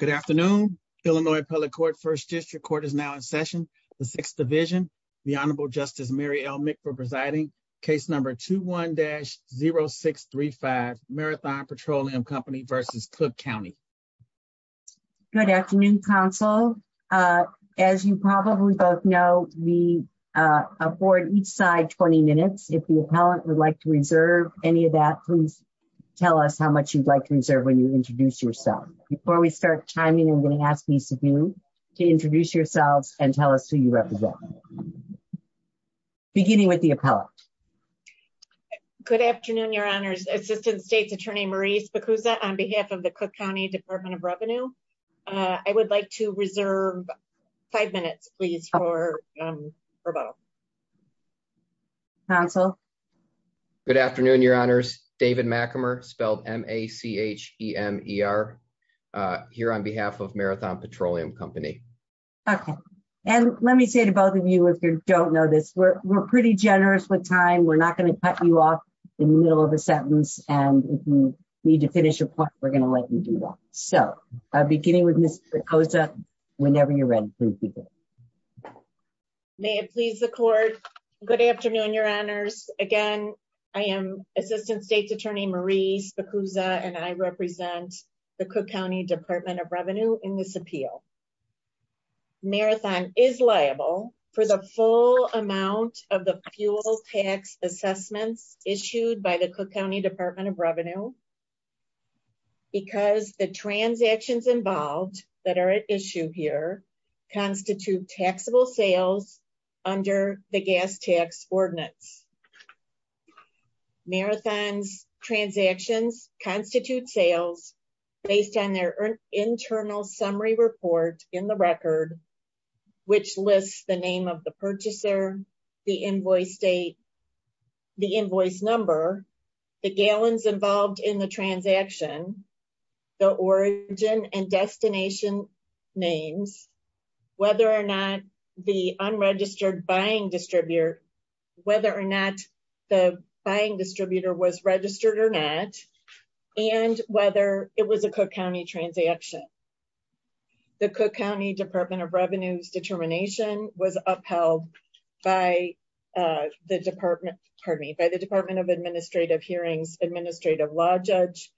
Good afternoon. Illinois Appellate Court First District Court is now in session. The Sixth Division, the Honorable Justice Mary L. Mick for presiding, case number 21-0635, Marathon Petroleum Company v. Cook County. Good afternoon, counsel. As you probably both know, we afford each side 20 minutes. If the appellant would like to reserve any of that, please tell us how much you'd like to reserve when you introduce yourself. Before we start timing, I'm going to ask each of you to introduce yourselves and tell us who you represent, beginning with the appellant. Good afternoon, Your Honors. Assistant States Attorney Maurice Bacusa on behalf of the Cook County Department of Revenue. I would like to reserve five minutes, please, for both. Counsel? Good afternoon, Your Honors. David Mackimer, spelled M-A-C-H-E-M-E-R, here on behalf of Marathon Petroleum Company. Okay. And let me say to both of you, if you don't know this, we're pretty generous with time. We're not going to cut you off in the middle of a sentence, and if you need to finish your point, we're going to let you do that. So, beginning with Ms. Bacusa, whenever you're ready, please begin. Okay. May it please the court. Good afternoon, Your Honors. Again, I am Assistant States Attorney Maurice Bacusa, and I represent the Cook County Department of Revenue in this appeal. Marathon is liable for the full amount of the fuel tax assessments issued by the Cook County Department of Revenue, because the transactions involved that are at issue here constitute taxable sales under the gas tax ordinance. Marathon's transactions constitute sales based on their internal summary report in the record, which lists the name of the purchaser, the invoice date, the invoice number, the gallons involved in the transaction, the origin and destination names, whether or not the unregistered buying distributor, whether or not the buying distributor was registered or not, and whether it was a Cook County transaction. The Cook County Department of Revenue's determination was upheld by the Department of Administrative Hearings Administrative Law Judge.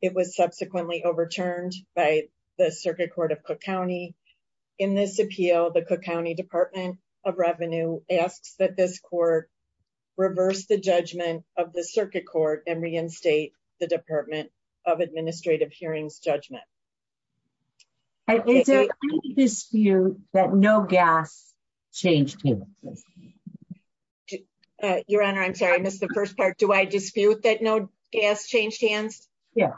It was subsequently overturned by the Circuit Court of Cook County. In this appeal, the Cook County Department of Revenue asks that this court reverse the judgment of the Circuit Court and reinstate the Department of Administrative Hearings judgment. It's a dispute that no gas changed hands. Your Honor, I'm sorry, I missed the first part. Do I dispute that no gas changed hands? Yeah.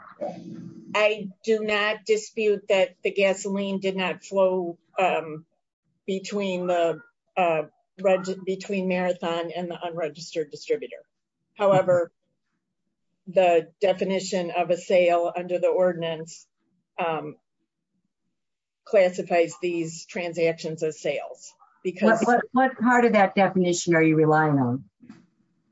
I do not dispute that the gasoline did not flow between Marathon and the unregistered distributor. However, the definition of a sale under the ordinance classifies these transactions as sales. What part of that definition are you relying on?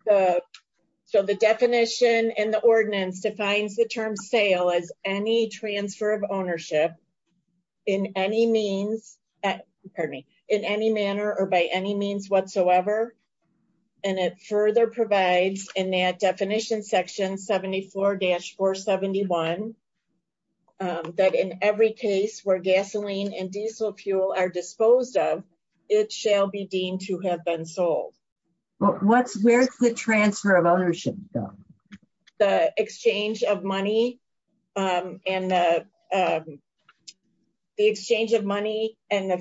So the definition in the ordinance defines the term sale as any transfer of ownership in any means, pardon me, in any manner or by any means whatsoever. And it further provides in that definition section 74-471 that in every case where it shall be deemed to have been sold. Where's the transfer of ownership? The exchange of money and the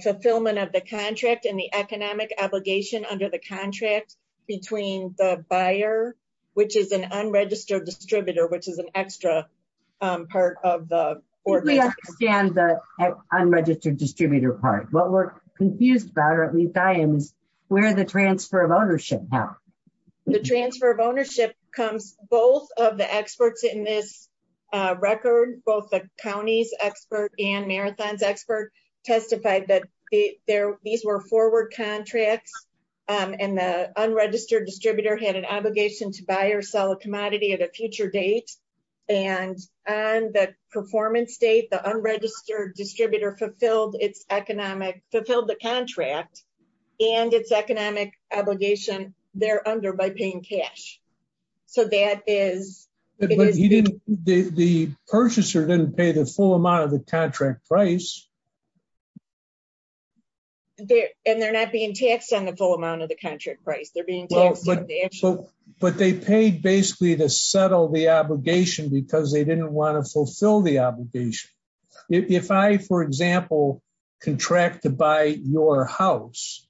fulfillment of the contract and the economic obligation under the contract between the buyer, which is an unregistered distributor, which is an extra part of the unregistered distributor part. What we're confused about or at least I am is where the transfer of ownership now. The transfer of ownership comes both of the experts in this record, both the county's expert and Marathon's expert testified that these were forward contracts and the unregistered distributor had an obligation to buy or sell a commodity at a future date. And on the performance date, the unregistered distributor fulfilled its economic, fulfilled the contract and its economic obligation there under by paying cash. So that is. The purchaser didn't pay the full amount of the contract price. And they're not being taxed on the full amount of the contract price. They're being taxed. But they paid basically to settle the obligation because they didn't want to fulfill the obligation. If I, for example, contract to buy your house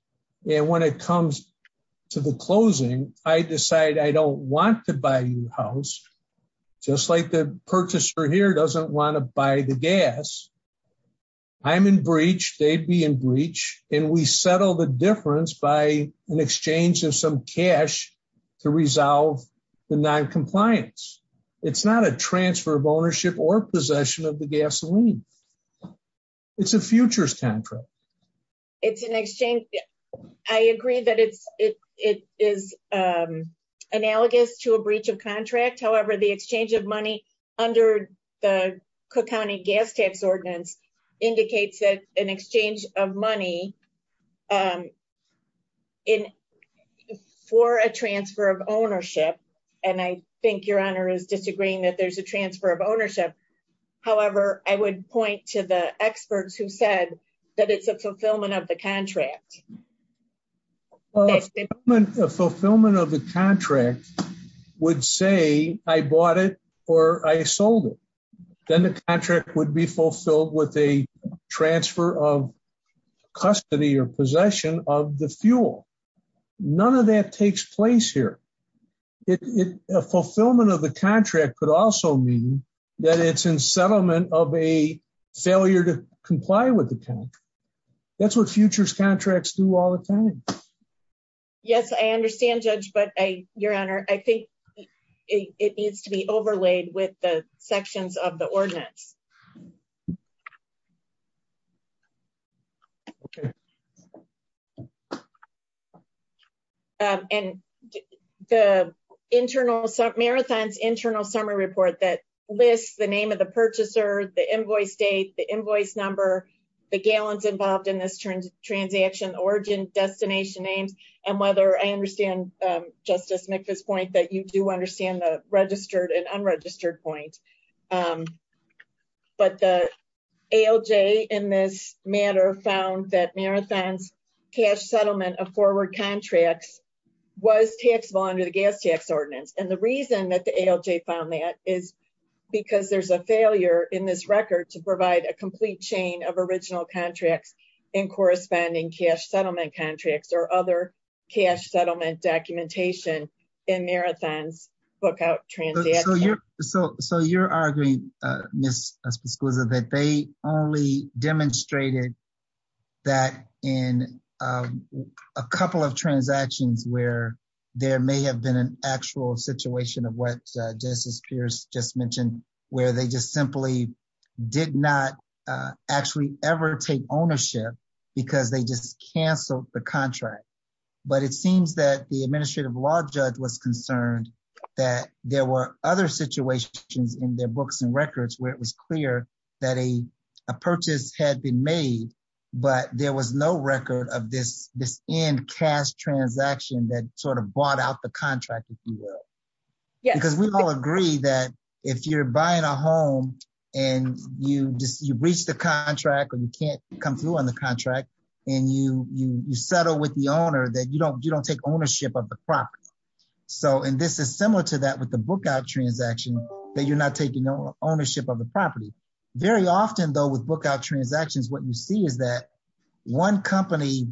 and when it comes to the closing, I decide I don't want to buy your house, just like the purchaser here doesn't want to buy the gas. I'm in breach. They'd be in breach. And we settle the difference by an exchange of some cash to resolve the noncompliance. It's not a transfer of ownership or possession of the gasoline. It's a futures contract. It's an exchange. I agree that it is analogous to a breach of indicates that an exchange of money in for a transfer of ownership. And I think your honor is disagreeing that there's a transfer of ownership. However, I would point to the experts who said that it's a fulfillment of the contract. A fulfillment of the contract would say I bought it or I sold it, then the contract would be fulfilled with a transfer of custody or possession of the fuel. None of that takes place here. A fulfillment of the contract could also mean that it's in settlement of a failure to comply with the contract. That's what futures contracts do all the time. Yes, I understand, Judge, but your honor, I think it needs to be overlaid with the ordinance. And the internal, Marathon's internal summary report that lists the name of the purchaser, the invoice date, the invoice number, the gallons involved in this transaction, origin, destination names, and whether I understand Justice McPhus' point that you do understand registered and unregistered point. But the ALJ in this matter found that Marathon's cash settlement of forward contracts was taxable under the gas tax ordinance. And the reason that the ALJ found that is because there's a failure in this record to provide a complete chain of original contracts and corresponding cash settlement contracts or other cash settlement documentation in Marathon's book out transaction. So you're arguing, Ms. Piscuza, that they only demonstrated that in a couple of transactions where there may have been an actual situation of what Justice Pierce just mentioned, where they just simply did not actually ever take ownership because they just canceled the contract. But it seems that the administrative law judge was concerned that there were other situations in their books and records where it was clear that a purchase had been made, but there was no record of this end cash transaction that sort of bought out the contract, if you will. Because we all agree that if you're buying a home and you reach the contract or you can't come through on the contract and you settle with the owner that you don't take ownership of the property. And this is similar to that with the book out transaction that you're not taking ownership of the property. Very often though with book out transactions, what you see is that one company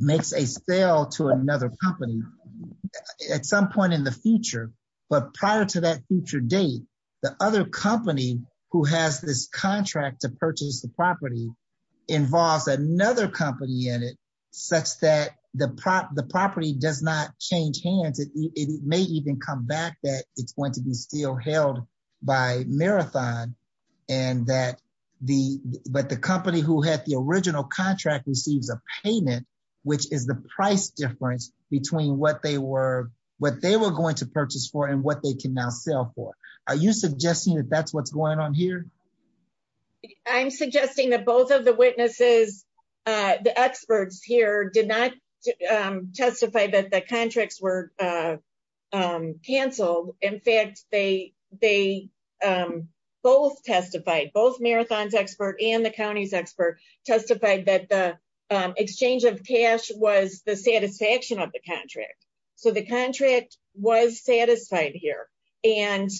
makes a sale to another company at some point in the future. But prior to that future date, the other company who has this contract to purchase the property involves another company in it such that the property does not change hands. It may even come back that it's going to be still held by Marathon. But the company who had the original contract receives a payment, which is the price difference between what they were going to purchase for and what they can now sell for. Are you suggesting that that's what's going on here? I'm suggesting that both of the witnesses, the experts here did not testify that the contracts were canceled. In fact, they both testified, both Marathon's expert and the county's expert testified that the exchange of cash was the satisfaction of the contract. So the contract was satisfied here. And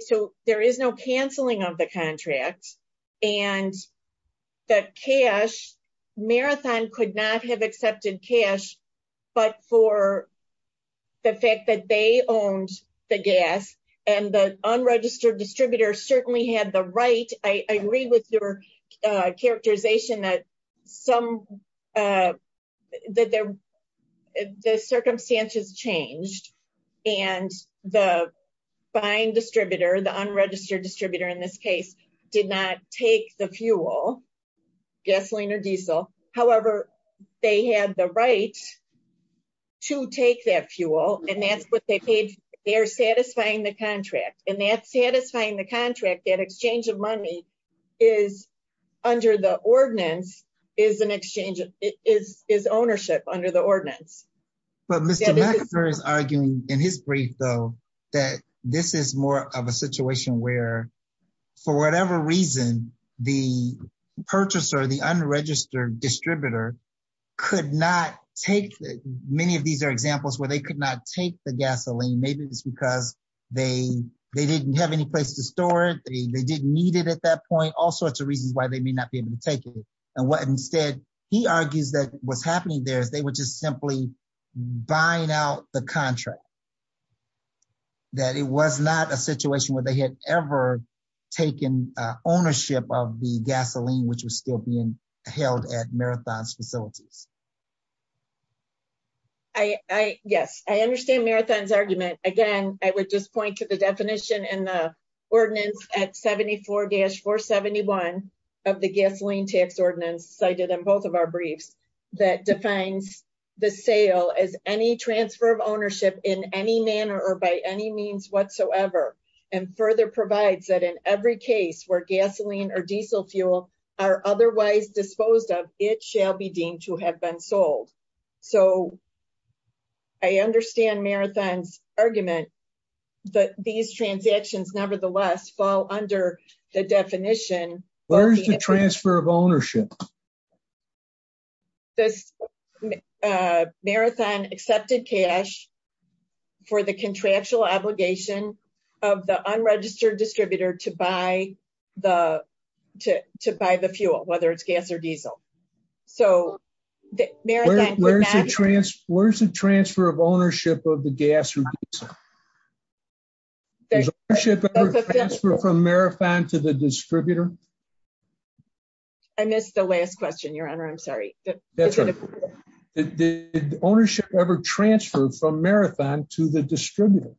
so there is no canceling of the contract. And the cash, Marathon could not have accepted cash, but for the fact that they owned the gas and the unregistered distributor certainly had the right, I agree with your characterization that some, that the circumstances changed and the buying distributor, the unregistered distributor in this case, did not take the fuel, gasoline or diesel. However, they had the right to take that fuel and that's what they paid. They're satisfying the contract and that's an exchange, it is ownership under the ordinance. But Mr. Meckler is arguing in his brief though, that this is more of a situation where for whatever reason, the purchaser, the unregistered distributor could not take, many of these are examples where they could not take the gasoline. Maybe it's because they didn't have any place to store it. They didn't need it at that point, all sorts of reasons why they may not be able to take it. And what instead, he argues that what's happening there is they were just simply buying out the contract. That it was not a situation where they had ever taken ownership of the gasoline, which was still being held at Marathon's facilities. I, yes, I understand Marathon's argument. Again, I would just point to the definition in the 471 of the gasoline tax ordinance cited in both of our briefs that defines the sale as any transfer of ownership in any manner or by any means whatsoever. And further provides that in every case where gasoline or diesel fuel are otherwise disposed of, it shall be deemed to have been sold. So I understand Marathon's argument that these transactions nevertheless fall under the definition. Where's the transfer of ownership? This Marathon accepted cash for the contractual obligation of the unregistered distributor to buy the fuel, whether it's gas or diesel. So Marathon- Where's the transfer of ownership of the gas or diesel? Did ownership ever transfer from Marathon to the distributor? I missed the last question, your honor. I'm sorry. Did ownership ever transfer from Marathon to the distributor?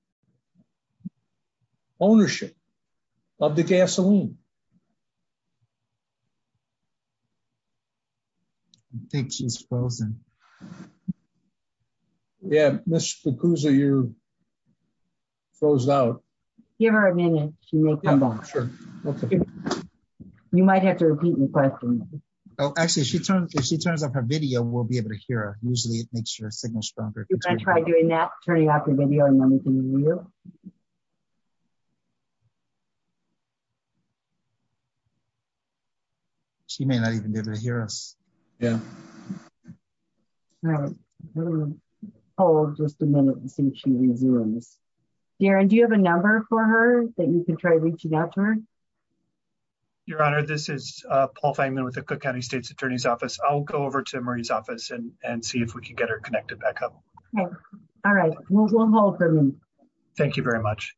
Ownership of the gasoline? I think she's frozen. Yeah, Ms. Spokooza, you froze out. Give her a minute. You might have to repeat the question. Oh, actually, if she turns off her video, we'll be able to hear her. Usually it makes your signal stronger. Can I try doing that, turning off your video? She may not even be able to hear us. Yeah. Hold just a minute and see if she resumes. Darren, do you have a number for her that you can try reaching out to her? Your honor, this is Paul Fangman with the Cook County State's Attorney's Office. I'll go over to Marie's office and see if we can her connected back up. All right. We'll hold for a minute. Thank you very much.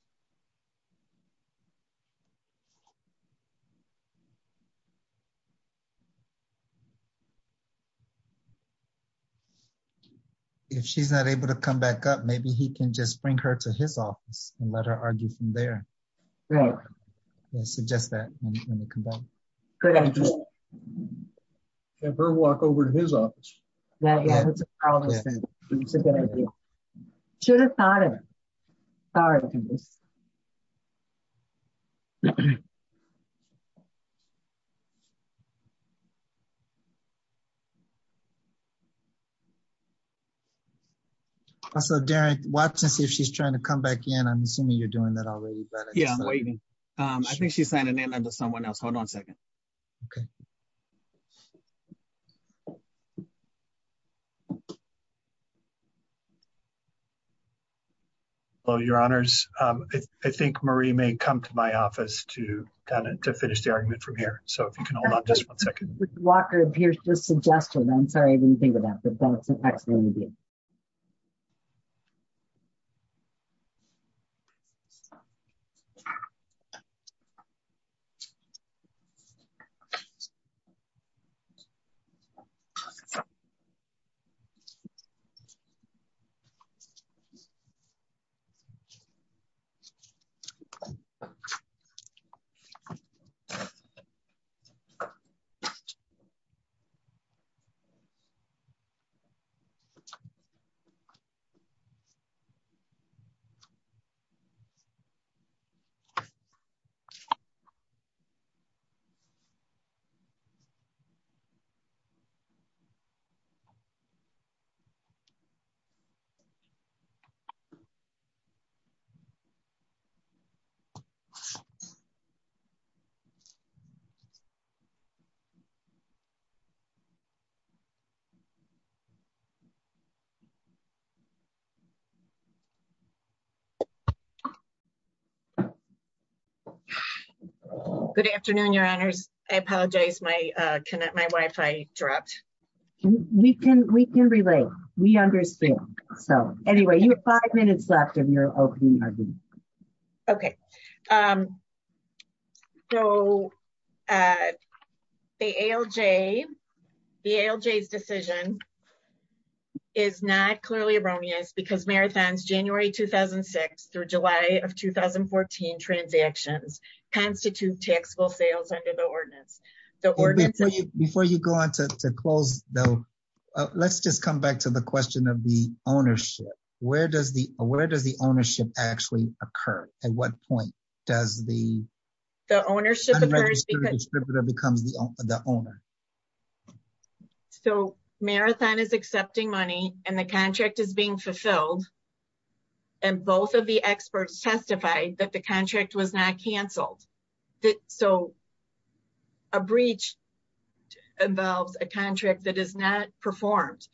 All right. All right. All right. All right. If she's not able to come back up, maybe he can just bring her to his office and let her argue from there. Right. I suggest that when we come back. Good idea. Have her walk over to his office. That's a good idea. Should have thought of it. Sorry. So Darren, watch and see if she's trying to come back in. I'm assuming you're doing that already. I think she's signing in under someone else. Hold on a second. Okay. Hello, your honors. I think Marie may come to my office to finish the argument from here. So if you can hold on just one second. Walker appears to suggest that. I'm sorry. Good afternoon, your honors. I apologize. My my Wi-Fi dropped. We can we can relate. We understand. So anyway, you have five minutes left of your opening argument. Okay. So the ALJ, the ALJ's decision is not clearly erroneous because Marathon's January 2006 through July of 2014 transactions constitute taxable sales under the ordinance. The ordinance. Before you go on to close, though, let's just come back to the question of the ownership. Where does the where does the ownership actually occur? At what point does the. The ownership becomes the owner. So Marathon is accepting money and the contract is being fulfilled. And both of the experts testified that the contract was not canceled. So. A breach involves a contract that is not performed.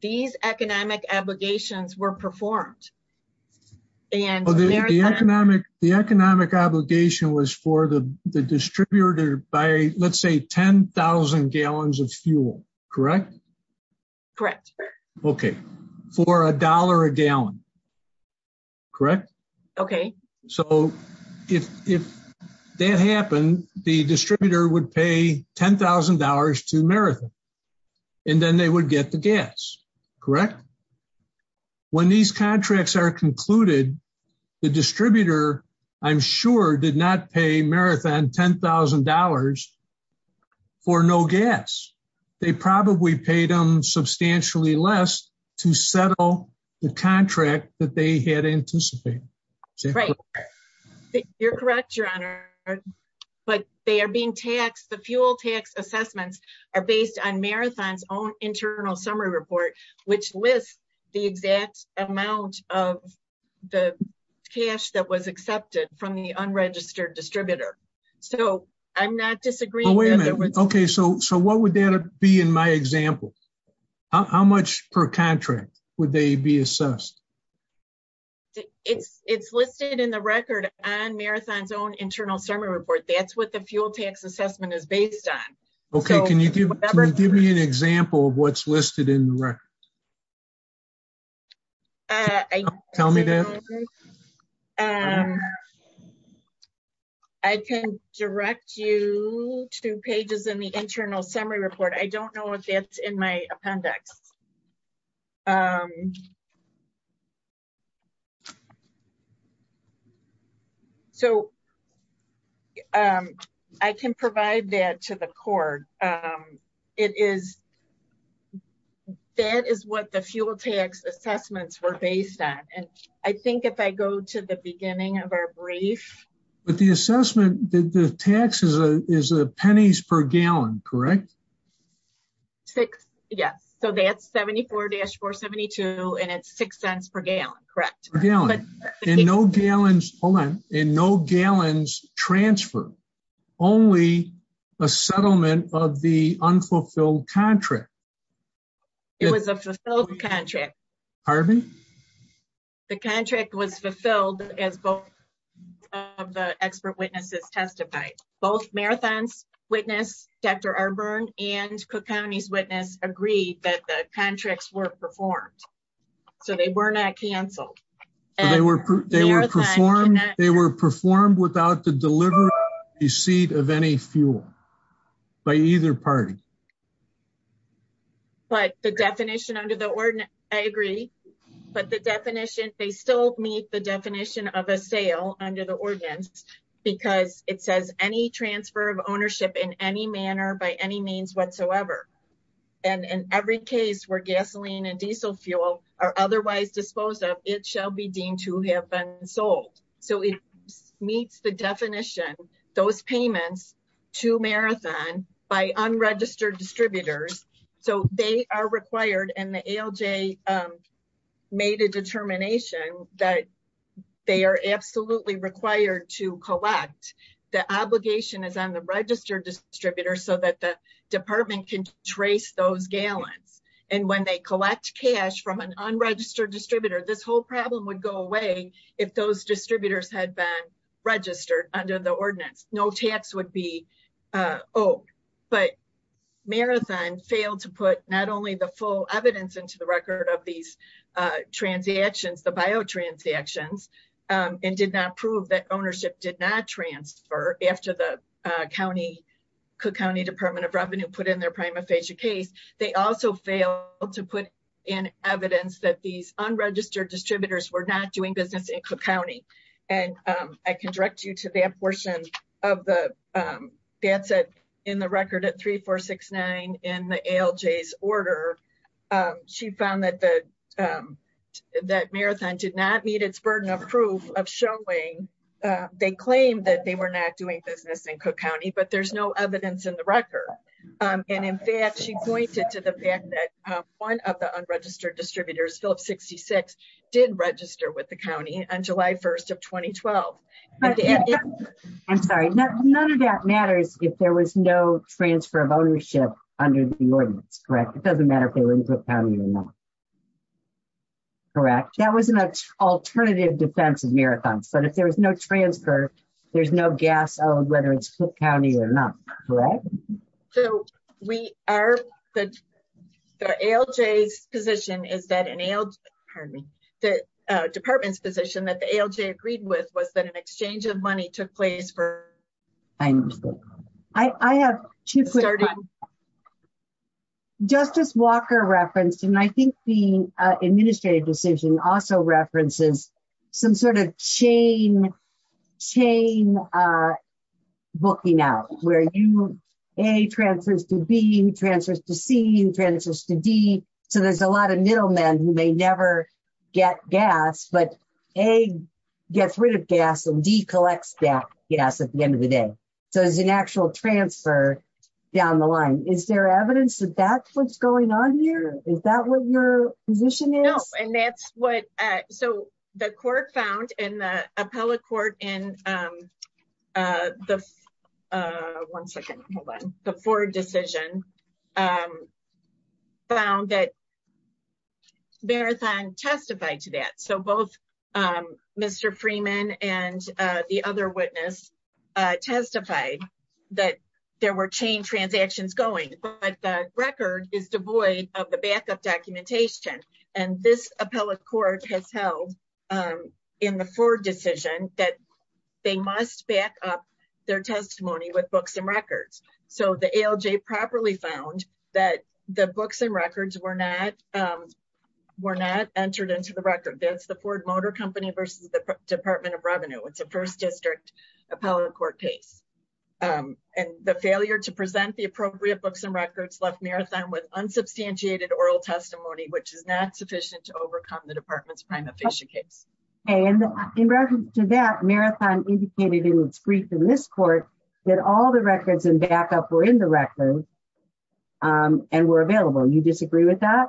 These economic obligations were performed. And the economic the economic obligation was for the distributor by, let's say, 10,000 gallons of fuel, correct? Correct. Okay. For a dollar a gallon. Correct. Okay. So if if that happened, the distributor would pay $10,000 to Marathon. And then they would get the gas. Correct. When these contracts are concluded, the distributor, I'm sure, did not pay Marathon $10,000 for no gas. They probably paid them $10,000. Right. You're correct, Your Honor. But they are being taxed. The fuel tax assessments are based on Marathon's own internal summary report, which lists the exact amount of the cash that was accepted from the unregistered distributor. So I'm not disagreeing. Okay, so so what would that be in my example? How much per contract would they be assessed? It's it's listed in the record on Marathon's own internal summary report. That's what the fuel tax assessment is based on. Okay, can you give me an example of what's listed in the record? I can direct you to pages in the internal summary report. I don't know if that's in my appendix. Okay. So I can provide that to the court. It is. That is what the fuel tax assessments were based on. And I think if I go to the beginning of our brief. But the assessment, the taxes is a pennies per gallon, correct? Six. Yes. So that's 74-472 and it's six cents per gallon. Correct. In no gallons, hold on, in no gallons transfer, only a settlement of the unfulfilled contract. It was a fulfilled contract. Pardon me? The contract was fulfilled as both of the expert witnesses testified. Both Marathon's witness, Dr. Arburn and Cook County's witness agreed that the contracts were performed. So they were not canceled. They were performed without the delivery receipt of any fuel by either party. But the definition under the ordinance, I agree. But the definition, they still meet the definition of a sale under the ordinance because it says any transfer of ownership in any manner by any whatsoever. And in every case where gasoline and diesel fuel are otherwise disposed of, it shall be deemed to have been sold. So it meets the definition, those payments to Marathon by unregistered distributors. So they are required and the ALJ made a determination that they are absolutely required to collect. The obligation is on the registered distributor so that the department can trace those gallons. And when they collect cash from an unregistered distributor, this whole problem would go away if those distributors had been registered under the ordinance, no tax would be owed. But Marathon failed to put not only the full evidence into the record of these transactions, the biotransactions, and did not prove that Cook County Department of Revenue put in their prima facie case. They also failed to put in evidence that these unregistered distributors were not doing business in Cook County. And I can direct you to that portion of the, that's in the record at 3469 in the ALJ's order. She found that Marathon did not meet its burden of proof of showing, they claimed that they were not doing business in Cook County, but there's no evidence in the record. And in fact, she pointed to the fact that one of the unregistered distributors, Phillips 66, did register with the county on July 1st of 2012. I'm sorry, none of that matters if there was no transfer of ownership under the ordinance, correct? It doesn't matter if they were in Cook County or not, correct? That was an alternative defense of Marathon. But if there was no transfer, there's no guess on whether it's Cook County or not, correct? So we are, the ALJ's position is that an ALJ, pardon me, the department's position that the ALJ agreed with was that an exchange of money took place for... I have two quick... Justice Walker referenced, and I think the chain booking out where you, A transfers to B, transfers to C, transfers to D. So there's a lot of middlemen who may never get gas, but A gets rid of gas and D collects gas at the end of the day. So there's an actual transfer down the line. Is there evidence that that's what's going on here? Is that what your position is? No, and that's what, so the court found in the appellate court in the, one second, hold on, the Ford decision found that Marathon testified to that. So both Mr. Freeman and the other witness testified that there were chain transactions going, but the record is devoid of the backup documentation. And this appellate court has held in the Ford decision that they must back up their testimony with books and records. So the ALJ properly found that the books and records were not entered into the record. That's the Ford Motor Company versus the Department of Revenue. It's a first district appellate court case. And the failure to present the appropriate books and records left Marathon with unsubstantiated oral testimony, which is not sufficient to overcome the department's prima facie case. And in reference to that, Marathon indicated in its brief in this court that all the records and backup were in the record and were available. You disagree with that?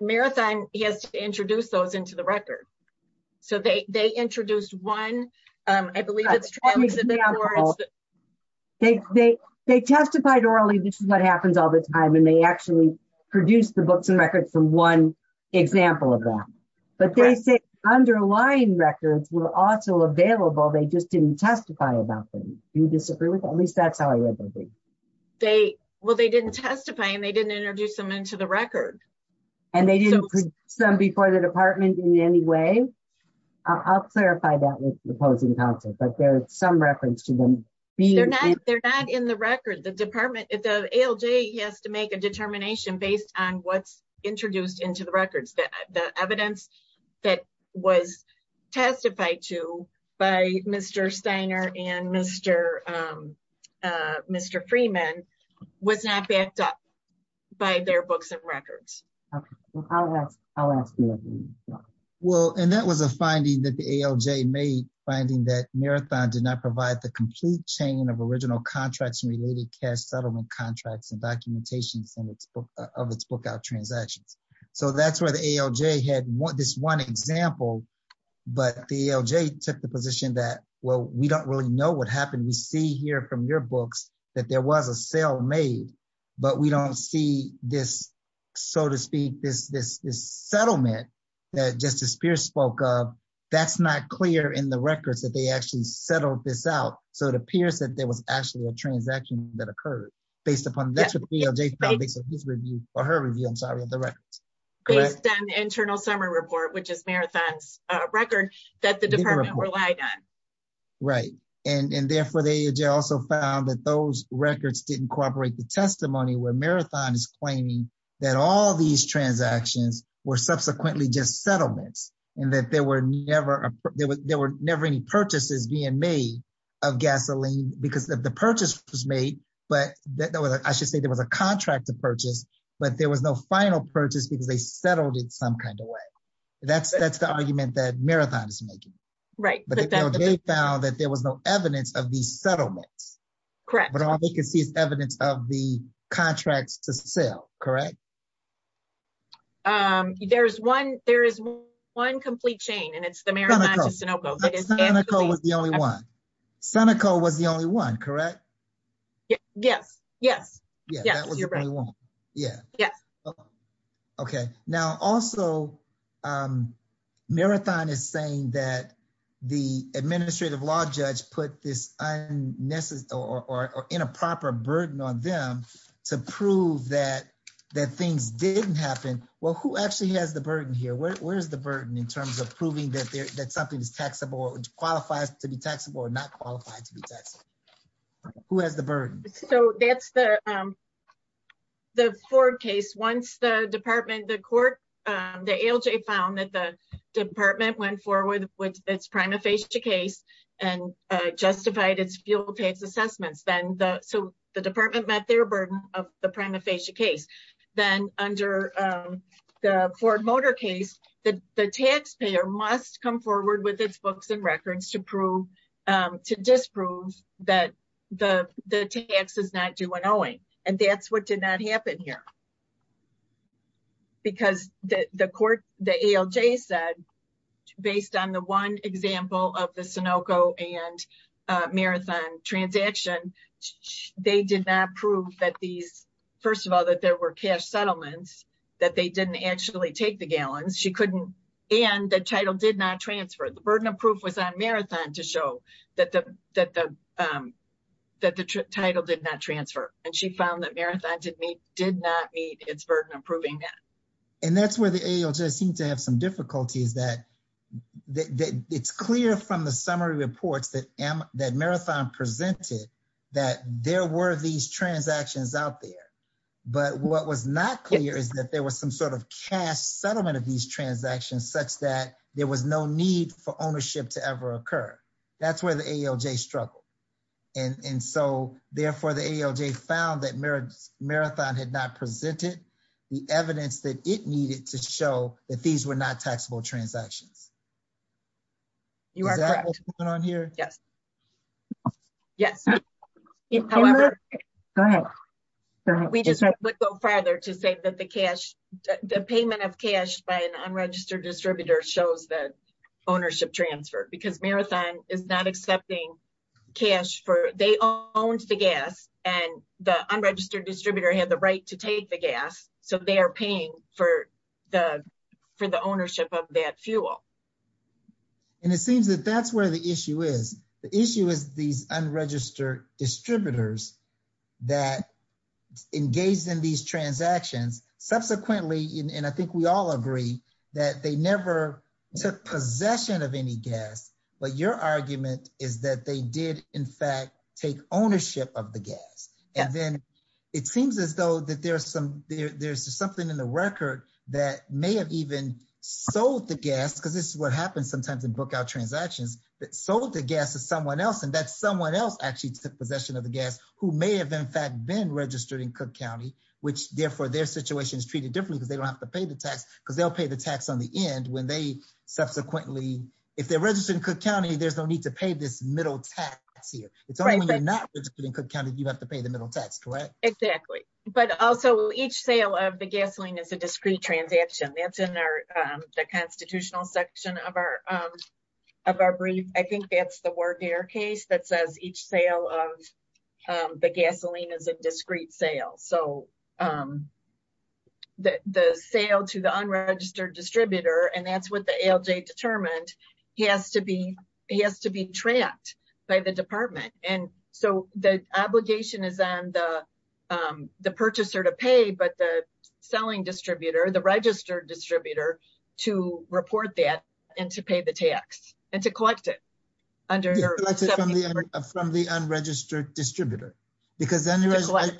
Marathon has introduced those into the record. So they introduced one, I believe it's They testified orally. This is what happens all the time. And they actually produced the books and records from one example of that. But they say underlying records were also available. They just didn't testify about them. You disagree with that? At least that's how I read the brief. They, well, they didn't testify and they didn't introduce them into the and they didn't put some before the department in any way. I'll clarify that with the opposing counsel, but there's some reference to them. They're not, they're not in the record. The department, the ALJ has to make a determination based on what's introduced into the records that the evidence that was testified to by Mr. Steiner and Mr. Freeman was not backed up by their books and records. Well, and that was a finding that the ALJ made finding that Marathon did not provide the complete chain of original contracts and related cash settlement contracts and documentation of its book out transactions. So that's where the ALJ had this one example, but the ALJ took the position that, well, we don't really know what happened. We see here from your books that there was a sale made, but we don't see this, so to speak, this, this, this settlement that Justice Pierce spoke of. That's not clear in the records that they actually settled this out. So it appears that there was actually a transaction that occurred based upon or her review, I'm sorry, of the records. Based on the internal summary report, which is Marathon's department. Right. And therefore they also found that those records didn't cooperate the testimony where Marathon is claiming that all these transactions were subsequently just settlements and that there were never, there were never any purchases being made of gasoline because of the purchase was made, but that was, I should say there was a contract to purchase, but there was no final purchase because they settled it some kind of way. That's, that's the argument that Marathon is making. Right. But they found that there was no evidence of these settlements. Correct. But all they can see is evidence of the contracts to sell. Correct. There's one, there is one complete chain and it's the Marathon to Sunoco. Sunoco was the only one. Sunoco was the only one. Correct. Yes. Yes. Yes. Yeah. Yes. Okay. Now also Marathon is saying that the administrative law judge put this unnecessary or in a proper burden on them to prove that, that things didn't happen. Well, who actually has the burden here? Where, where's the burden in terms of proving that there, that something is taxable or qualifies to be taxable or not qualified to be taxable? Who has the burden? So that's the, the Ford case. Once the department, the court, the ALJ found that the department went forward with its prima facie case and justified its fuel tax assessments. Then the, so the department met their burden of the prima facie case. Then under the Ford motor case, the taxpayer must come forward with its books and records to prove, to disprove that the tax is not due an owing. And that's what did not happen here. Because the court, the ALJ said, based on the one example of the Sunoco and Marathon transaction, they did not prove that these, first of all, that there were cash settlements, that they didn't actually take the gallons. She couldn't, and the title did not transfer. The that the title did not transfer. And she found that Marathon did not meet its burden of proving that. And that's where the ALJ seemed to have some difficulties that it's clear from the summary reports that Marathon presented that there were these transactions out there, but what was not clear is that there was some sort of cash settlement of these transactions such that there was no need for ownership to ever occur. That's where the ALJ struggled. And so therefore the ALJ found that Marathon had not presented the evidence that it needed to show that these were not taxable transactions. You are correct. Is that what's going on here? Yes. Yes. However, we just would go further to say that the cash, the payment of cash by an unregistered distributor shows the ownership transfer because Marathon is not accepting cash for, they owned the gas and the unregistered distributor had the right to take the gas. So they are paying for the, for the ownership of that fuel. And it seems that that's where the issue is. The issue is these unregistered distributors that engaged in these transactions subsequently. And I think we all agree that they never took possession of any gas, but your argument is that they did in fact take ownership of the gas. And then it seems as though that there's some, there's something in the record that may have even sold the gas because this is what happens sometimes in book out transactions that sold the gas to someone else. And that's someone else actually took possession of the gas who may have in fact been registered in Cook County, which therefore their situation is treated differently because they don't have to pay the tax because they'll pay the tax on the end when they subsequently, if they're registered in Cook County, there's no need to pay this middle tax here. It's only when you're not in Cook County, you have to pay the middle tax, correct? Exactly. But also each sale of the gasoline is a discrete transaction. That's in our, the constitutional section of our, of our brief. I think that's the word there case that says each sale of the gasoline is a discrete sale. So the sale to the unregistered distributor, and that's what the ALJ determined, he has to be, he has to be trapped by the department. And so the obligation is on the purchaser to pay, but the selling distributor, the registered distributor to report that and to pay the tax and to collect it. From the unregistered distributor, because the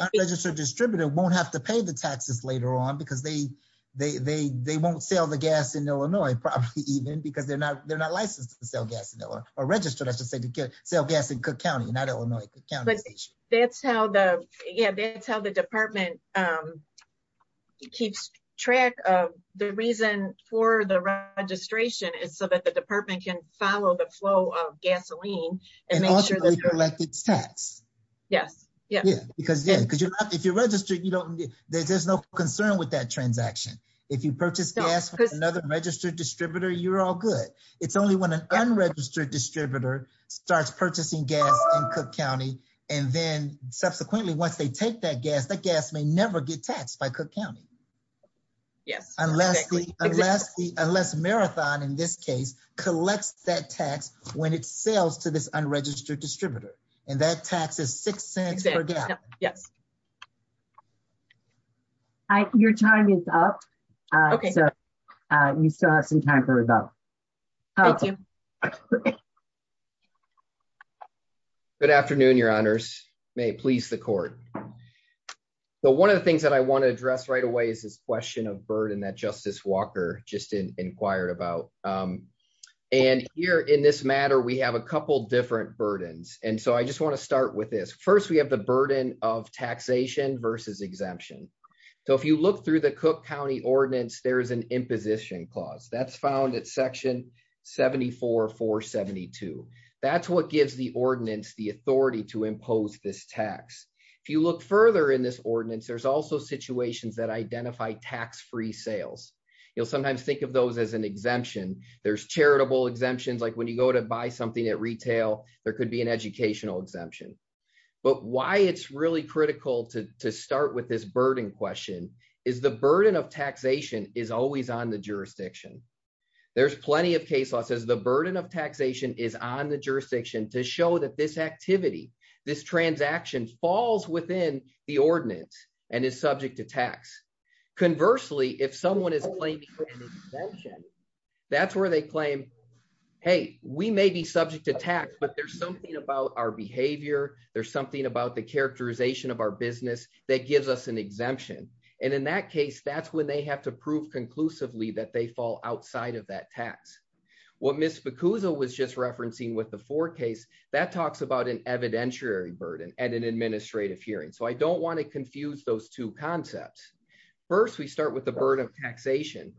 unregistered distributor won't have to pay the taxes later on because they, they, they, they won't sell the gas in Illinois, probably even because they're not, they're not licensed to sell gas in Illinois or registered, I should say, to sell gas in Cook County, not Illinois. But that's how the, yeah, that's how the department um, keeps track of the reason for the registration is so that the department can follow the flow of gasoline and make sure that it's taxed. Yes. Yeah. Because, yeah, because you're not, if you're registered, you don't, there's no concern with that transaction. If you purchase gas from another registered distributor, you're all good. It's only when an unregistered distributor starts purchasing gas in Cook County. And then subsequently, once they take that gas, that gas may never get taxed by Cook County. Yes. Unless the, unless the, unless Marathon in this case collects that tax when it sells to this unregistered distributor and that tax is six cents per gallon. Yes. I, your time is up. Uh, so, uh, you still have some time for rebuttal. Thank you. Good afternoon, your honors may please the court. So one of the things that I want to address right away is this question of burden that justice Walker just inquired about. Um, and here in this matter, we have a couple different burdens. And so I just want to start with this. First, we have the burden of taxation versus exemption. So if you look through the Cook County ordinance, there is an imposition clause that's found at section 74 for 72. That's what gives the ordinance the authority to impose this tax. If you look further in this ordinance, there's also situations that identify tax-free sales. You'll sometimes think of those as an exemption. There's charitable exemptions. Like when you go to buy something at retail, there could be an educational exemption, but why it's really critical to, to start with this burden question is the burden of taxation is always on the jurisdiction. There's plenty of case law says the burden of taxation is on the jurisdiction to show that this activity, this transaction falls within the ordinance and is subject to tax. Conversely, if someone is claiming, that's where they claim, Hey, we may be subject to tax, but there's something about our behavior. There's something about the characterization of our business that gives us an exemption. And in that case, that's when they have to prove conclusively that they fall outside of that tax. What Ms. Bacuso was just referencing with the four case that talks about an evidentiary burden and an administrative hearing. So I don't want to confuse those two concepts. First, we start with the burden of evidentiary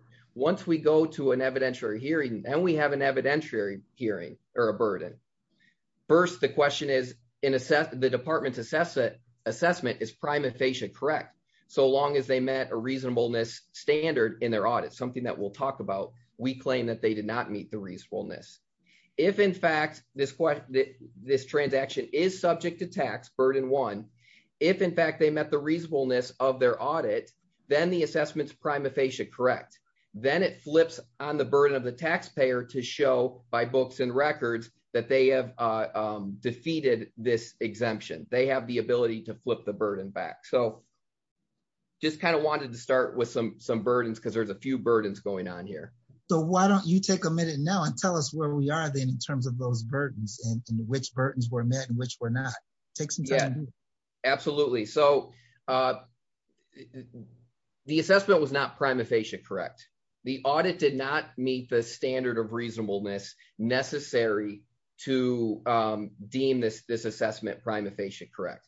hearing or a burden. First, the question is in assess the department's assessment assessment is prima facie correct. So long as they met a reasonableness standard in their audit, something that we'll talk about, we claim that they did not meet the reasonableness. If in fact this, this transaction is subject to tax burden one, if in fact they met the reasonableness of their audit, then the assessment's prima facie correct. Then it flips on the burden of the taxpayer to show by books and records that they have defeated this exemption. They have the ability to flip the burden back. So just kind of wanted to start with some, some burdens because there's a few burdens going on here. So why don't you take a minute now and tell us where we are then in terms of those burdens and which burdens were met and which were not. Yeah, absolutely. So the assessment was not prima facie correct. The audit did not meet the standard of reasonableness necessary to deem this, this assessment prima facie correct.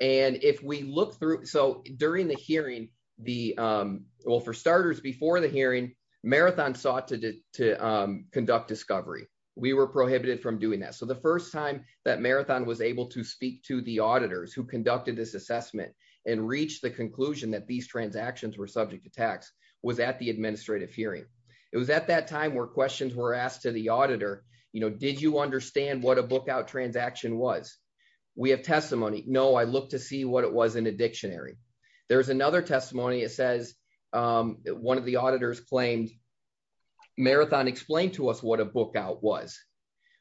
And if we look through, so during the hearing, the well, for starters, before the hearing marathon sought to, to conduct discovery, we were prohibited from doing that. So the first time that marathon was able to speak to the auditors who conducted this assessment and reached the conclusion that these transactions were subject to tax was at the administrative hearing. It was at that time where questions were asked to the auditor, you know, did you understand what a book out transaction was? We have testimony. No, I looked to see what it was in a dictionary. There's another testimony. It says one of the auditors claimed marathon explained to us what a book out was,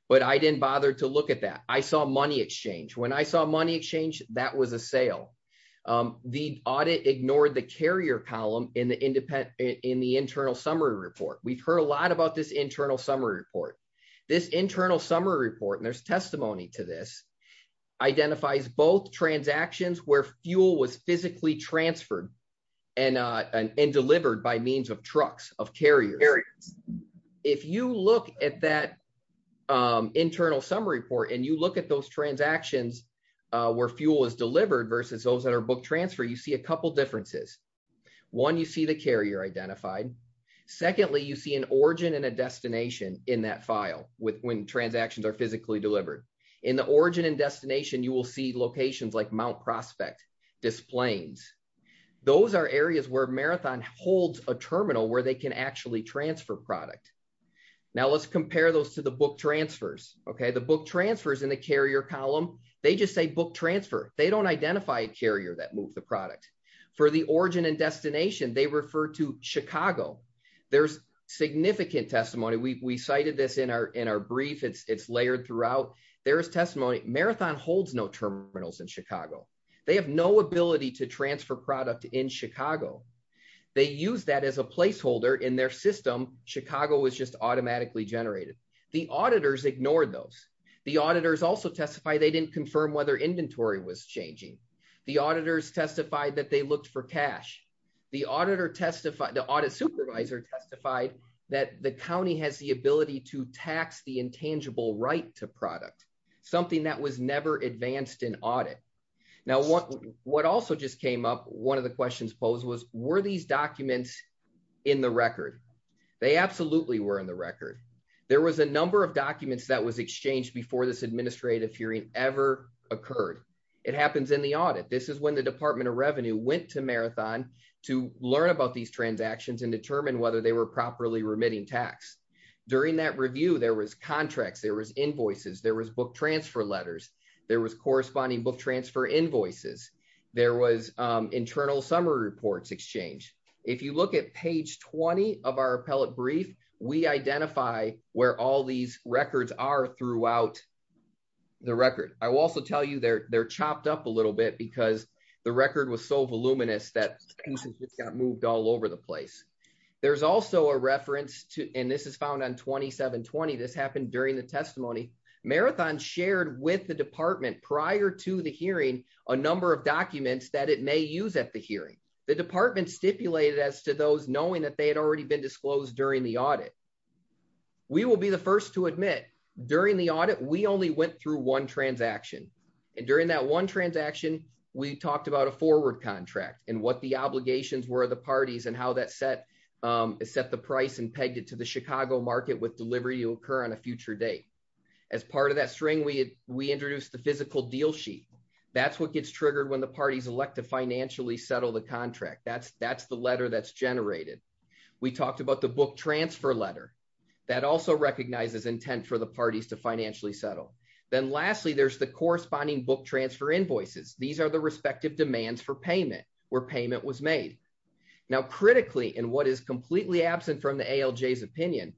but I didn't bother to look at that. I saw money exchange. When I saw money exchange, that was a sale. The audit ignored the carrier column in the independent, in the internal summary report. We've heard a lot about this internal summary report, this internal summary report, and there's testimony to this identifies both transactions where fuel was physically transferred and delivered by means of trucks of carriers. If you look at that internal summary report and you look at those transactions where fuel was delivered versus those that are book transfer, you see a couple differences. One, you see the carrier identified. Secondly, you see an origin and a destination in that file with when transactions are physically delivered. In the origin and destination, you will see locations like Mount Prospect, Displanes. Those are areas where Marathon holds a terminal where they can actually transfer product. Now, let's compare those to the book transfers, okay? The book transfers in the carrier column, they just say book transfer. They don't identify a carrier that moved the product. For the origin and destination, they refer to Chicago. There's significant testimony. We cited this in our brief. It's layered throughout. There's testimony. Marathon holds no terminals in Chicago. They have no ability to transfer product in Chicago. They use that as a placeholder in their system. Chicago was just automatically generated. The auditors ignored those. The auditors also testified they didn't confirm whether inventory was changing. The auditors testified that they looked for cash. The auditor testified, the audit supervisor testified that the county has the ability to tax the intangible right to product, something that was never advanced in audit. Now, what also just came up, one of the questions posed was, were these documents in the record? They absolutely were in the record. There was a number of documents that was exchanged before this administrative hearing ever occurred. It happens in the audit. This is when the Department of Revenue went to Marathon to learn about these transactions and determine whether they were properly remitting tax. During that review, there was contracts. There was invoices. There was book transfer letters. There was corresponding book transfer invoices. There was internal summary reports exchanged. If you look at page 20 of our appellate brief, we identify where all these records are throughout the record. I will also tell you they're chopped up a little bit because the record was so voluminous that pieces just got moved all over the place. There's also a reference to, and this is found on 2720, this happened during the testimony, Marathon shared with the department prior to the hearing a number of documents that it may use at the hearing. The department stipulated as to those knowing that they had already been disclosed during the audit. We will be the first to admit during the audit, we only went through one transaction. And during that one transaction, we talked about a forward contract and what the set the price and pegged it to the Chicago market with delivery to occur on a future date. As part of that string, we introduced the physical deal sheet. That's what gets triggered when the parties elect to financially settle the contract. That's the letter that's generated. We talked about the book transfer letter. That also recognizes intent for the parties to financially settle. Then lastly, there's the corresponding book transfer invoices. These are the respective demands for payment where payment was made. Now, critically in what is completely absent from the ALJ's opinion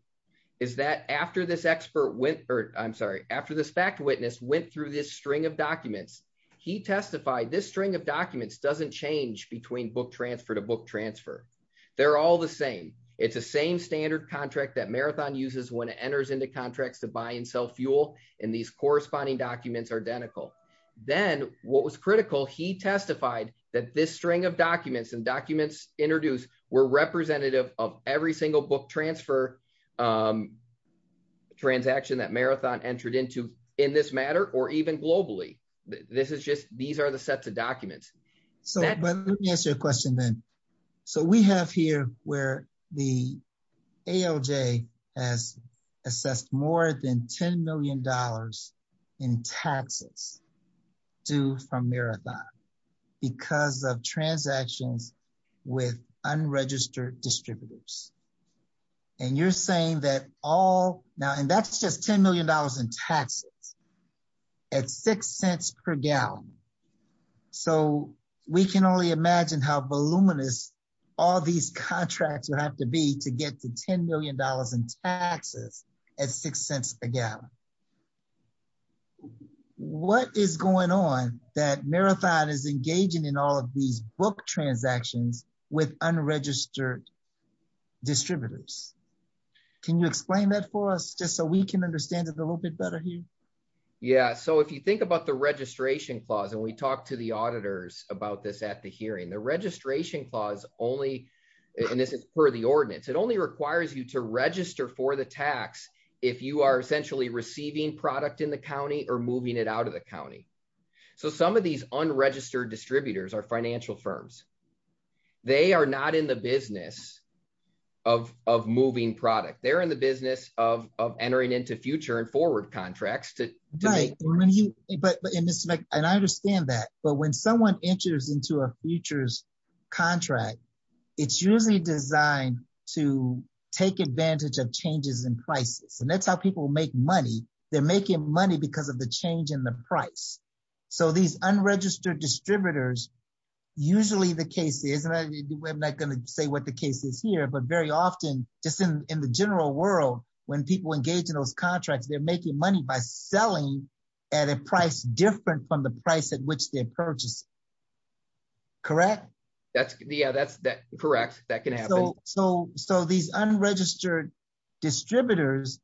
is that after this expert went, or I'm sorry, after this fact witness went through this string of documents, he testified this string of documents doesn't change between book transfer to book transfer. They're all the same. It's the same standard contract that Marathon uses when it enters into contracts to buy and sell fuel. And these corresponding documents are identical. Then what was critical, he testified that this string of documents and documents introduced were representative of every single book transfer transaction that Marathon entered into in this matter, or even globally. This is just, these are the sets of documents. So let me ask you a question then. So we have here where the ALJ has assessed more than $10 million in taxes due from Marathon because of transactions with unregistered distributors. And you're saying that all now, and that's just $10 million in taxes at six cents per gallon. So we can only imagine how voluminous all these contracts would have to be to get to $10 million in taxes at six cents a gallon. What is going on that Marathon is engaging in all of these book transactions with unregistered distributors? Can you explain that for us just so we can understand it a little bit better here? Yeah. So if you think about the registration clause, and we talked to the auditors about this at the hearing, the registration clause only, and this is per the tax, if you are essentially receiving product in the county or moving it out of the county. So some of these unregistered distributors are financial firms. They are not in the business of moving product. They're in the business of entering into future and forward contracts. But I understand that, but when someone enters into a futures contract, it's usually designed to take advantage of changes in prices. And that's how people make money. They're making money because of the change in the price. So these unregistered distributors, usually the case is, and I'm not going to say what the case is here, but very often just in the general world, when people engage in those contracts, they're making money by selling at a price different from the So these unregistered distributors,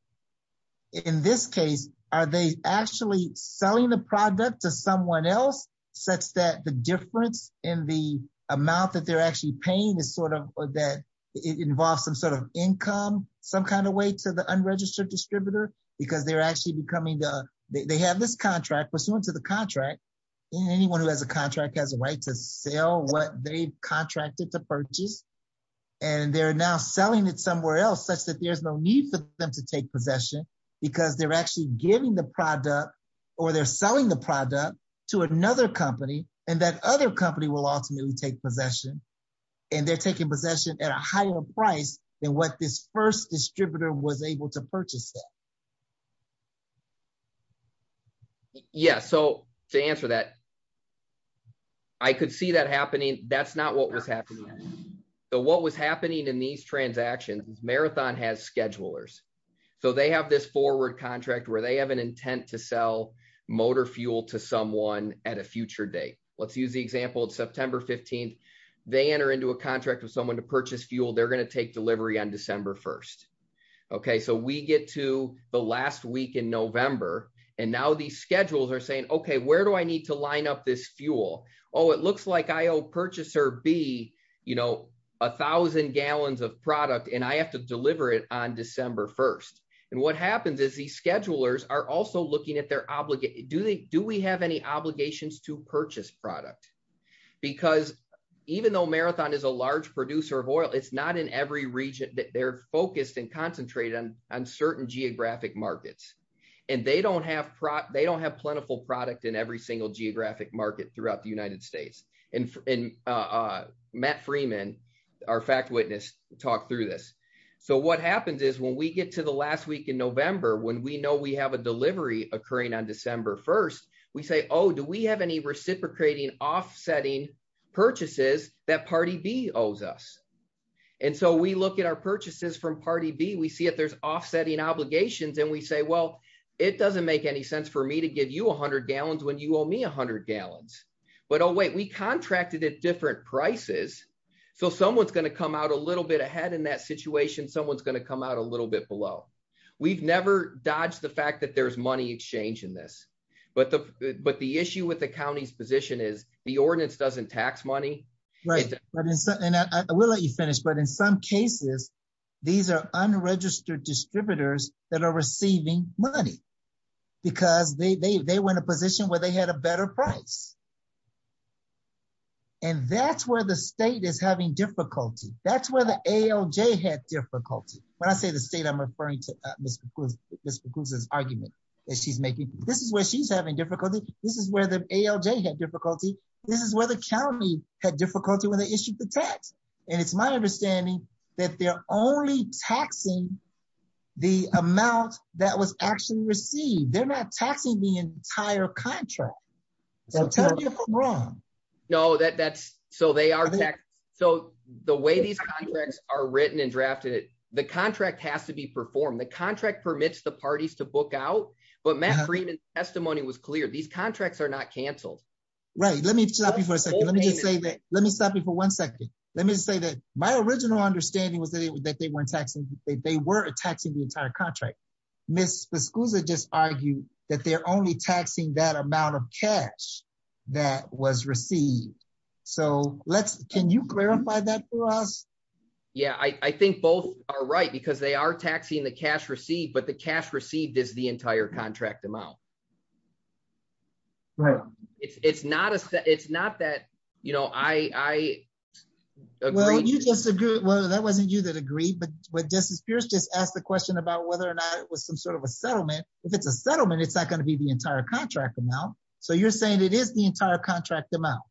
in this case, are they actually selling the product to someone else such that the difference in the amount that they're actually paying is sort of that involves some sort of income, some kind of way to the unregistered distributor, because they're actually becoming the, they have this contract pursuant to the contract. Anyone who has a contract has a right to sell what they've contracted to purchase. And they're now selling it somewhere else such that there's no need for them to take possession because they're actually giving the product or they're selling the product to another company. And that other company will ultimately take possession. And they're taking possession at a higher price than what this first distributor was able to purchase. Yeah. So to answer that, I could see that happening. That's not what was happening. So what was happening in these transactions, Marathon has schedulers. So they have this forward contract where they have an intent to sell motor fuel to someone at a future date. Let's use the example of September 15. They enter into a contract with someone to purchase fuel, they're going to take delivery on December 1. Okay, so we get to the last week in November. And now these schedules are saying, okay, where do I need to line up this fuel? Oh, looks like I owe purchaser B, you know, 1000 gallons of product, and I have to deliver it on December 1. And what happens is these schedulers are also looking at their obligations. Do we have any obligations to purchase product? Because even though Marathon is a large producer of oil, it's not in every region that they're focused and concentrated on certain geographic markets. And they don't have plentiful product in every single geographic market throughout the United States. And Matt Freeman, our fact witness, talked through this. So what happens is when we get to the last week in November, when we know we have a delivery occurring on December 1, we say, oh, do we have any reciprocating offsetting purchases that party B owes us. And so we look at our purchases from party B, we see if there's offsetting obligations, and we say, well, it doesn't make any sense for me to give you 100 gallons when you owe me 100 gallons. But oh, wait, we contracted at different prices. So someone's going to come out a little bit ahead in that situation, someone's going to come out a little bit below. We've never dodged the fact that there's money exchange in this. But the issue with the county's position is the ordinance doesn't tax money. Right. And I will let you finish. But in some cases, these are unregistered distributors that are receiving money. Because they went to position where they had a better price. And that's where the state is having difficulty. That's where the ALJ had difficulty. When I say the state, I'm referring to Mr. Cruz's argument that she's making. This is where she's having difficulty. This is where the ALJ had difficulty. This is where the county had difficulty when they issued the tax. And it's my understanding that they're only taxing the amount that was actually received. They're not taxing the entire contract. No, that's so they are. So the way these contracts are written and drafted, the contract has to be performed. The contract permits the parties to book out. But Matt Freeman's testimony was clear, these contracts are not canceled. Right? Let me stop you for a second. Let me say that. Let me stop you for one second. Let me say that my original understanding was that they weren't taxing the entire contract. Ms. Vizcuza just argued that they're only taxing that amount of cash that was received. So let's can you clarify that for us? Yeah, I think both are right, because they are taxing the cash received, but the cash received is the entire contract amount. Right. It's not a set. It's not that, you know, I agree. Well, you just agree. Well, that wasn't you that agree. But what this is, Pierce just asked the question about whether or not it was some sort of a settlement. If it's a settlement, it's not going to be the entire contract amount. So you're saying it is the entire contract amount.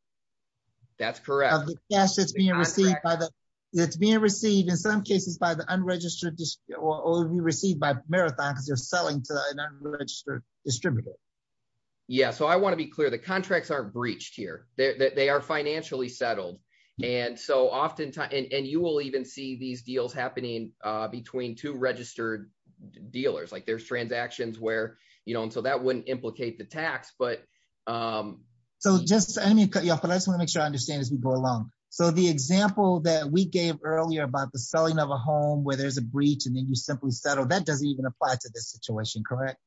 That's correct. Yes, it's being received by the it's being received in some cases by the unregistered or received by marathon because they're selling to an unregistered distributor. Yeah, so I want to be clear, the contracts aren't breached here, they are financially settled. And so oftentimes, and we'll even see these deals happening between two registered dealers, like there's transactions where, you know, and so that wouldn't implicate the tax. But so just let me cut you off. And I just wanna make sure I understand as we go along. So the example that we gave earlier about the selling of a home where there's a breach, and then you simply settle that doesn't even apply to this situation, correct?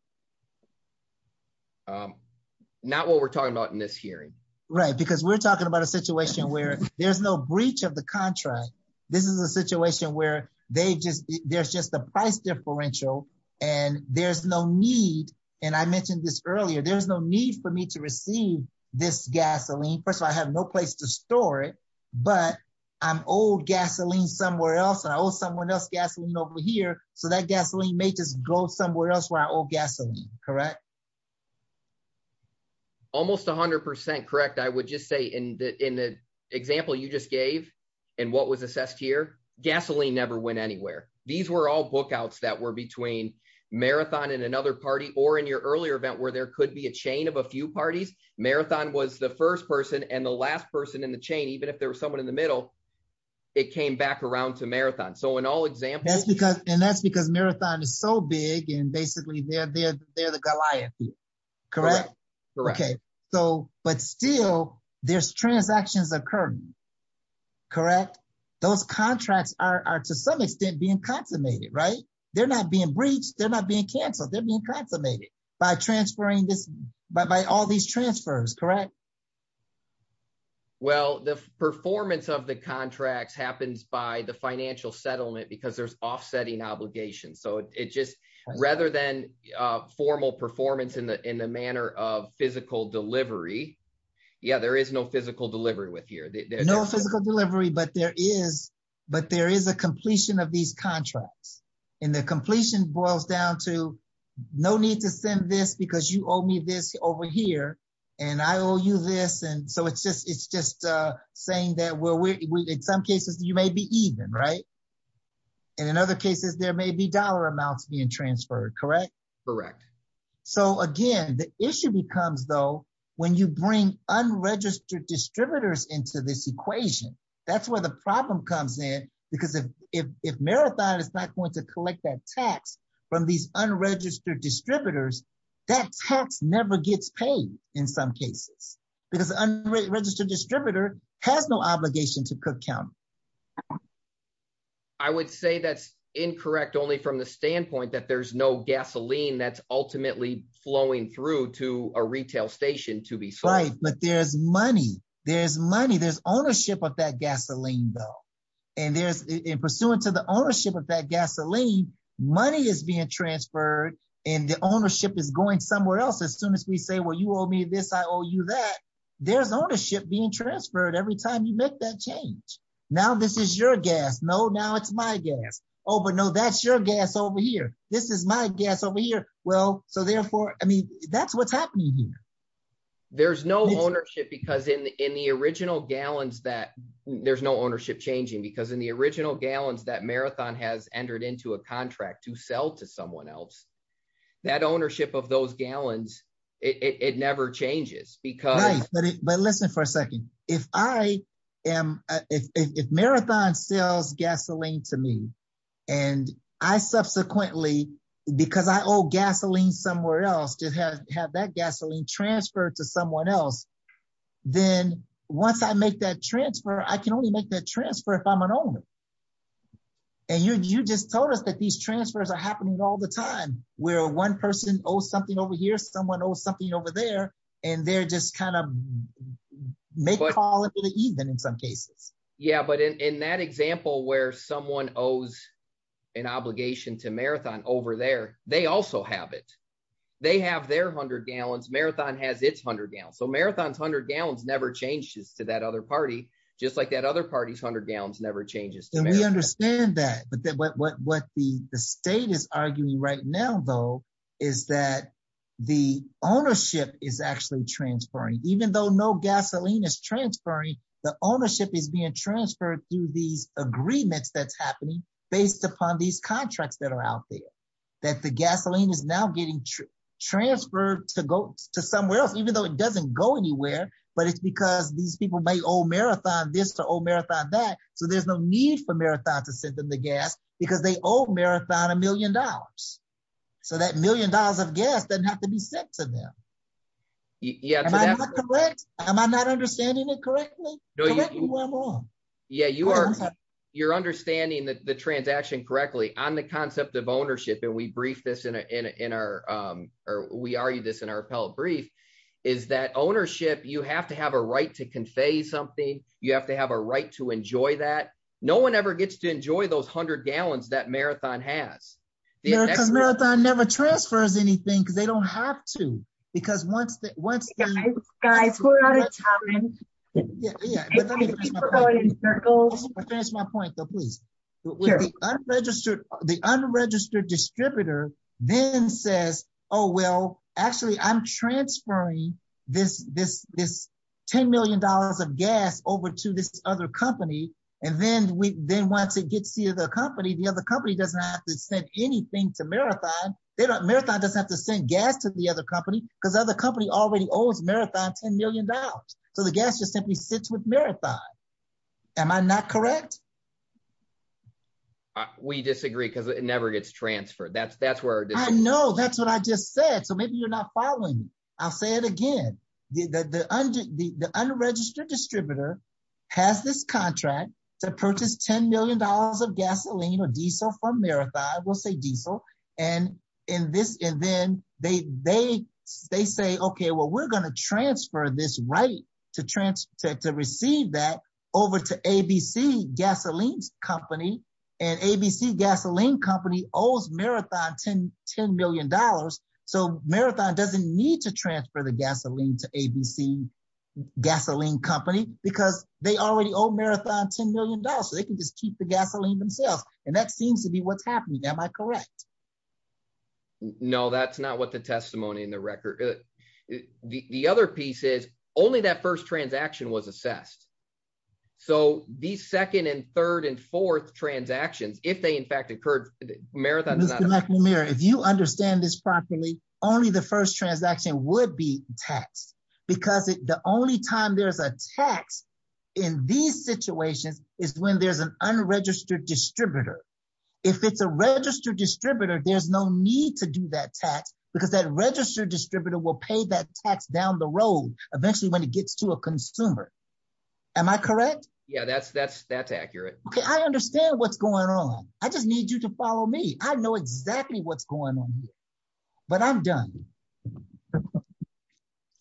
Not what we're talking about in this hearing, right? Because we're talking about a situation where there's no breach of the contract. This is a situation where they just there's just a price differential. And there's no need. And I mentioned this earlier, there's no need for me to receive this gasoline. First of all, I have no place to store it. But I'm old gasoline somewhere else. I owe someone else gasoline over here. So that gasoline may just somewhere else where I owe gasoline, correct? Almost 100% correct. I would just say in the in the example you just gave, and what was assessed here, gasoline never went anywhere. These were all bookouts that were between marathon and another party or in your earlier event where there could be a chain of a few parties. Marathon was the first person and the last person in the chain, even if there was someone in the middle. It came back around to marathon. So in all examples, because and that's because marathon is so and basically they're the Goliath. Correct. Okay. So but still, there's transactions occur. Correct. Those contracts are to some extent being consummated, right? They're not being breached. They're not being canceled. They're being consummated by transferring this by all these transfers. Correct. Well, the performance of the contracts happens by the financial settlement because there's offsetting obligations. So it just rather than formal performance in the in the manner of physical delivery. Yeah, there is no physical delivery with here. No physical delivery, but there is but there is a completion of these contracts. And the completion boils down to no need to send this because you owe me this over here. And I owe you this. And so it's just it's even right. And in other cases, there may be dollar amounts being transferred. Correct. Correct. So again, the issue becomes though, when you bring unregistered distributors into this equation, that's where the problem comes in. Because if if marathon is not going to collect that tax from these unregistered distributors, that tax never gets paid in some cases, because unregistered distributor has no obligation to cook count. I would say that's incorrect, only from the standpoint that there's no gasoline that's ultimately flowing through to a retail station to be right, but there's money, there's money, there's ownership of that gasoline bill. And there's in pursuant to the ownership of that gasoline, money is being transferred. And the ownership is going somewhere else. As soon as we say, well, you owe me this, I owe you that there's ownership being transferred every time you make that change. Now, this is your gas. No, now it's my gas. Oh, but no, that's your gas over here. This is my gas over here. Well, so therefore, I mean, that's what's happening here. There's no ownership because in the in the original gallons that there's no ownership changing because in the original gallons that marathon has entered into a contract to sell to someone else, that ownership of those gallons, it never changes because... Right, but listen for a second. If marathon sells gasoline to me, and I subsequently, because I owe gasoline somewhere else to have that gasoline transferred to someone else, then once I make that transfer, I can only make that transfer if I'm an owner. And you just told us that these transfers are happening all the time, where one person owes something over here, someone owes something over there, and they're just kind of make a call in the evening in some cases. Yeah, but in that example where someone owes an obligation to marathon over there, they also have it. They have their hundred gallons, marathon has its hundred gallons. So marathon's hundred gallons never changes to that other party, just like that other party's gallons never changes. And we understand that, but what the state is arguing right now though, is that the ownership is actually transferring. Even though no gasoline is transferring, the ownership is being transferred through these agreements that's happening based upon these contracts that are out there. That the gasoline is now getting transferred to go to somewhere else, even though it doesn't go anywhere, but it's because these people may owe marathon this to owe marathon that, so there's no need for marathon to send them the gas because they owe marathon a million dollars. So that million dollars of gas doesn't have to be sent to them. Am I not understanding it correctly? Correct me where I'm wrong. Yeah, you're understanding the transaction correctly on the concept of ownership, and we argue this in our appellate brief, is that ownership, you have to have a right to convey something. You have to have a right to enjoy that. No one ever gets to enjoy those hundred gallons that marathon has. No, because marathon never transfers anything because they don't have to. Because once they- Guys, we're out of time. Yeah, but let me finish my point, though, please. The unregistered distributor then says, oh, well, actually, I'm transferring this $10 million of gas over to this other company, and then once it gets to the other company, the other company doesn't have to send anything to marathon. Marathon doesn't have to send gas to the other company because the other company already sits with marathon. Am I not correct? We disagree because it never gets transferred. That's where- I know, that's what I just said, so maybe you're not following me. I'll say it again. The unregistered distributor has this contract to purchase $10 million of gasoline or diesel from marathon, we'll say diesel, and then they say, okay, well, we're going to transfer this right to receive that over to ABC Gasoline Company, and ABC Gasoline Company owes marathon $10 million, so marathon doesn't need to transfer the gasoline to ABC Gasoline Company because they already owe marathon $10 million, so they can just keep the gasoline themselves, and that seems to be what's happening. Am I correct? No, that's not what the testimony in the record- the other piece is only that first transaction was assessed, so these second and third and fourth transactions, if they in fact occurred, marathon does not- Mr. McNamara, if you understand this properly, only the first transaction would be taxed because the only time there's a tax in these situations is when there's unregistered distributor. If it's a registered distributor, there's no need to do that tax because that registered distributor will pay that tax down the road eventually when it gets to a consumer. Am I correct? Yeah, that's accurate. Okay, I understand what's going on. I just need you to follow me. I know exactly what's going on here, but I'm done.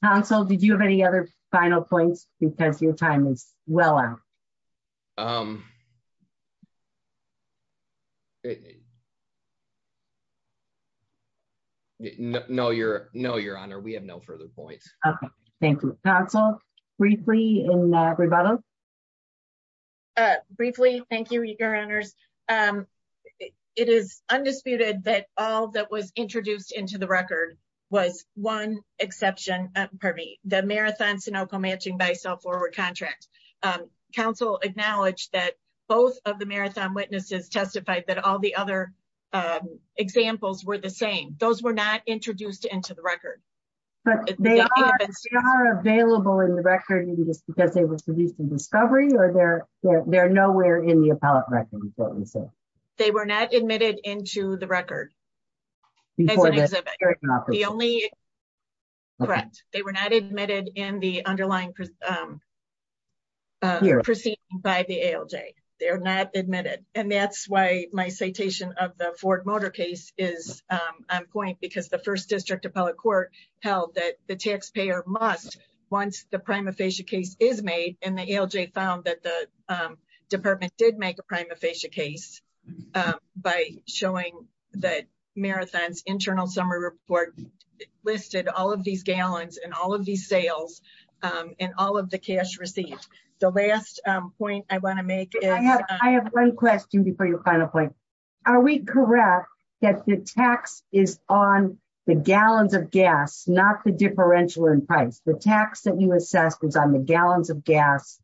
Council, did you have any other final points because your time is well out? No, Your Honor, we have no further points. Okay, thank you. Council, briefly in rebuttal? Briefly, thank you, Your Honors. It is by self-forward contract. Council acknowledged that both of the marathon witnesses testified that all the other examples were the same. Those were not introduced into the record. But they are available in the record just because they were produced in discovery or they're nowhere in the appellate record? They were not admitted into the record. Correct. They were not admitted in the underlying proceeding by the ALJ. They're not admitted. And that's why my citation of the Ford Motor case is on point because the first district appellate court held that the taxpayer must once the prima facie case is made and the ALJ found that the department did make a prima facie case by showing that Marathon's internal summary report listed all of these gallons and all of these sales and all of the cash received. The last point I want to make is... I have one question before your final point. Are we correct that the tax is on the gallons of gas, not the differential price? The tax that you assessed was on the gallons of gas.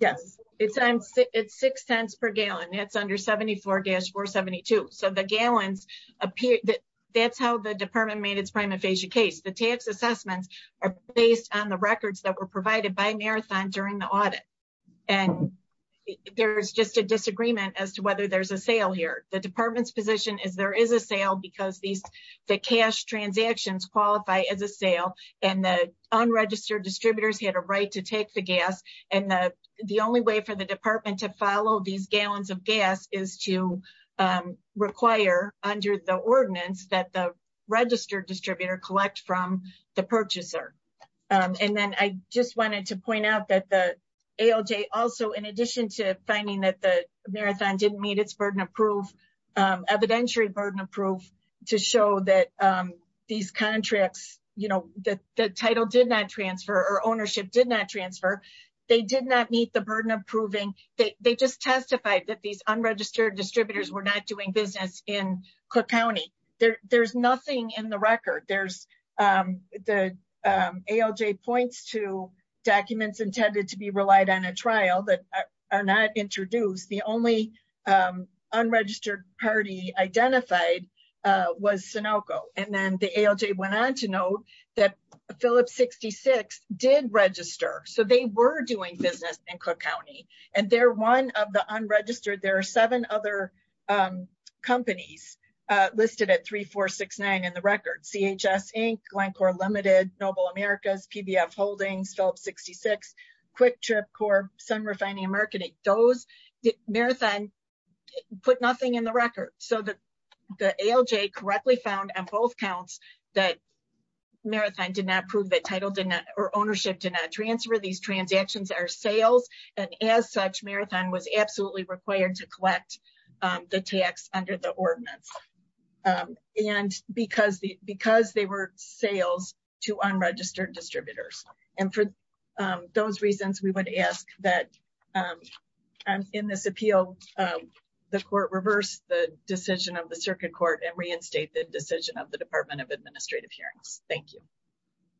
Yes. It's six cents per gallon. That's under 74-472. So the gallons appear... That's how the department made its prima facie case. The tax assessments are based on the records that were provided by Marathon during the audit. And there's just a disagreement as to whether there's a sale here. The department's position is there is a sale because the cash transactions qualify as a and the unregistered distributors had a right to take the gas. And the only way for the department to follow these gallons of gas is to require under the ordinance that the registered distributor collect from the purchaser. And then I just wanted to point out that the ALJ also, in addition to finding that the Marathon didn't meet its evidentiary burden of proof to show that these contracts, that the title did not transfer or ownership did not transfer, they did not meet the burden of proving. They just testified that these unregistered distributors were not doing business in Cook County. There's nothing in the record. The ALJ points to documents intended to be relied on a trial that are not introduced. The only unregistered party identified was Sunoco. And then the ALJ went on to note that Phillips 66 did register. So they were doing business in Cook County. And they're one of the unregistered. There are seven other companies listed at 3469 in the record. CHS Inc, Glencore Limited, Noble Americas, PBF Holdings, Phillips 66, Quick Trip Corp, Sun Refining and Marketing. Marathon put nothing in the record. So the ALJ correctly found on both counts that Marathon did not prove that ownership did not transfer. These transactions are sales. And as such, Marathon was absolutely required to collect the tax under the ordinance. And because they were sales to unregistered distributors. And for those reasons, we would ask that in this appeal, the court reverse the decision of the circuit court and reinstate the decision of the Department of Administrative Hearings. Thank you.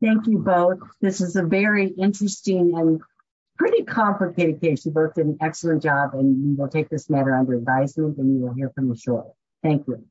Thank you both. This is a very interesting and pretty complicated case. You both did an excellent job and we'll take this matter under advisement and we will hear from you shortly. Thank you.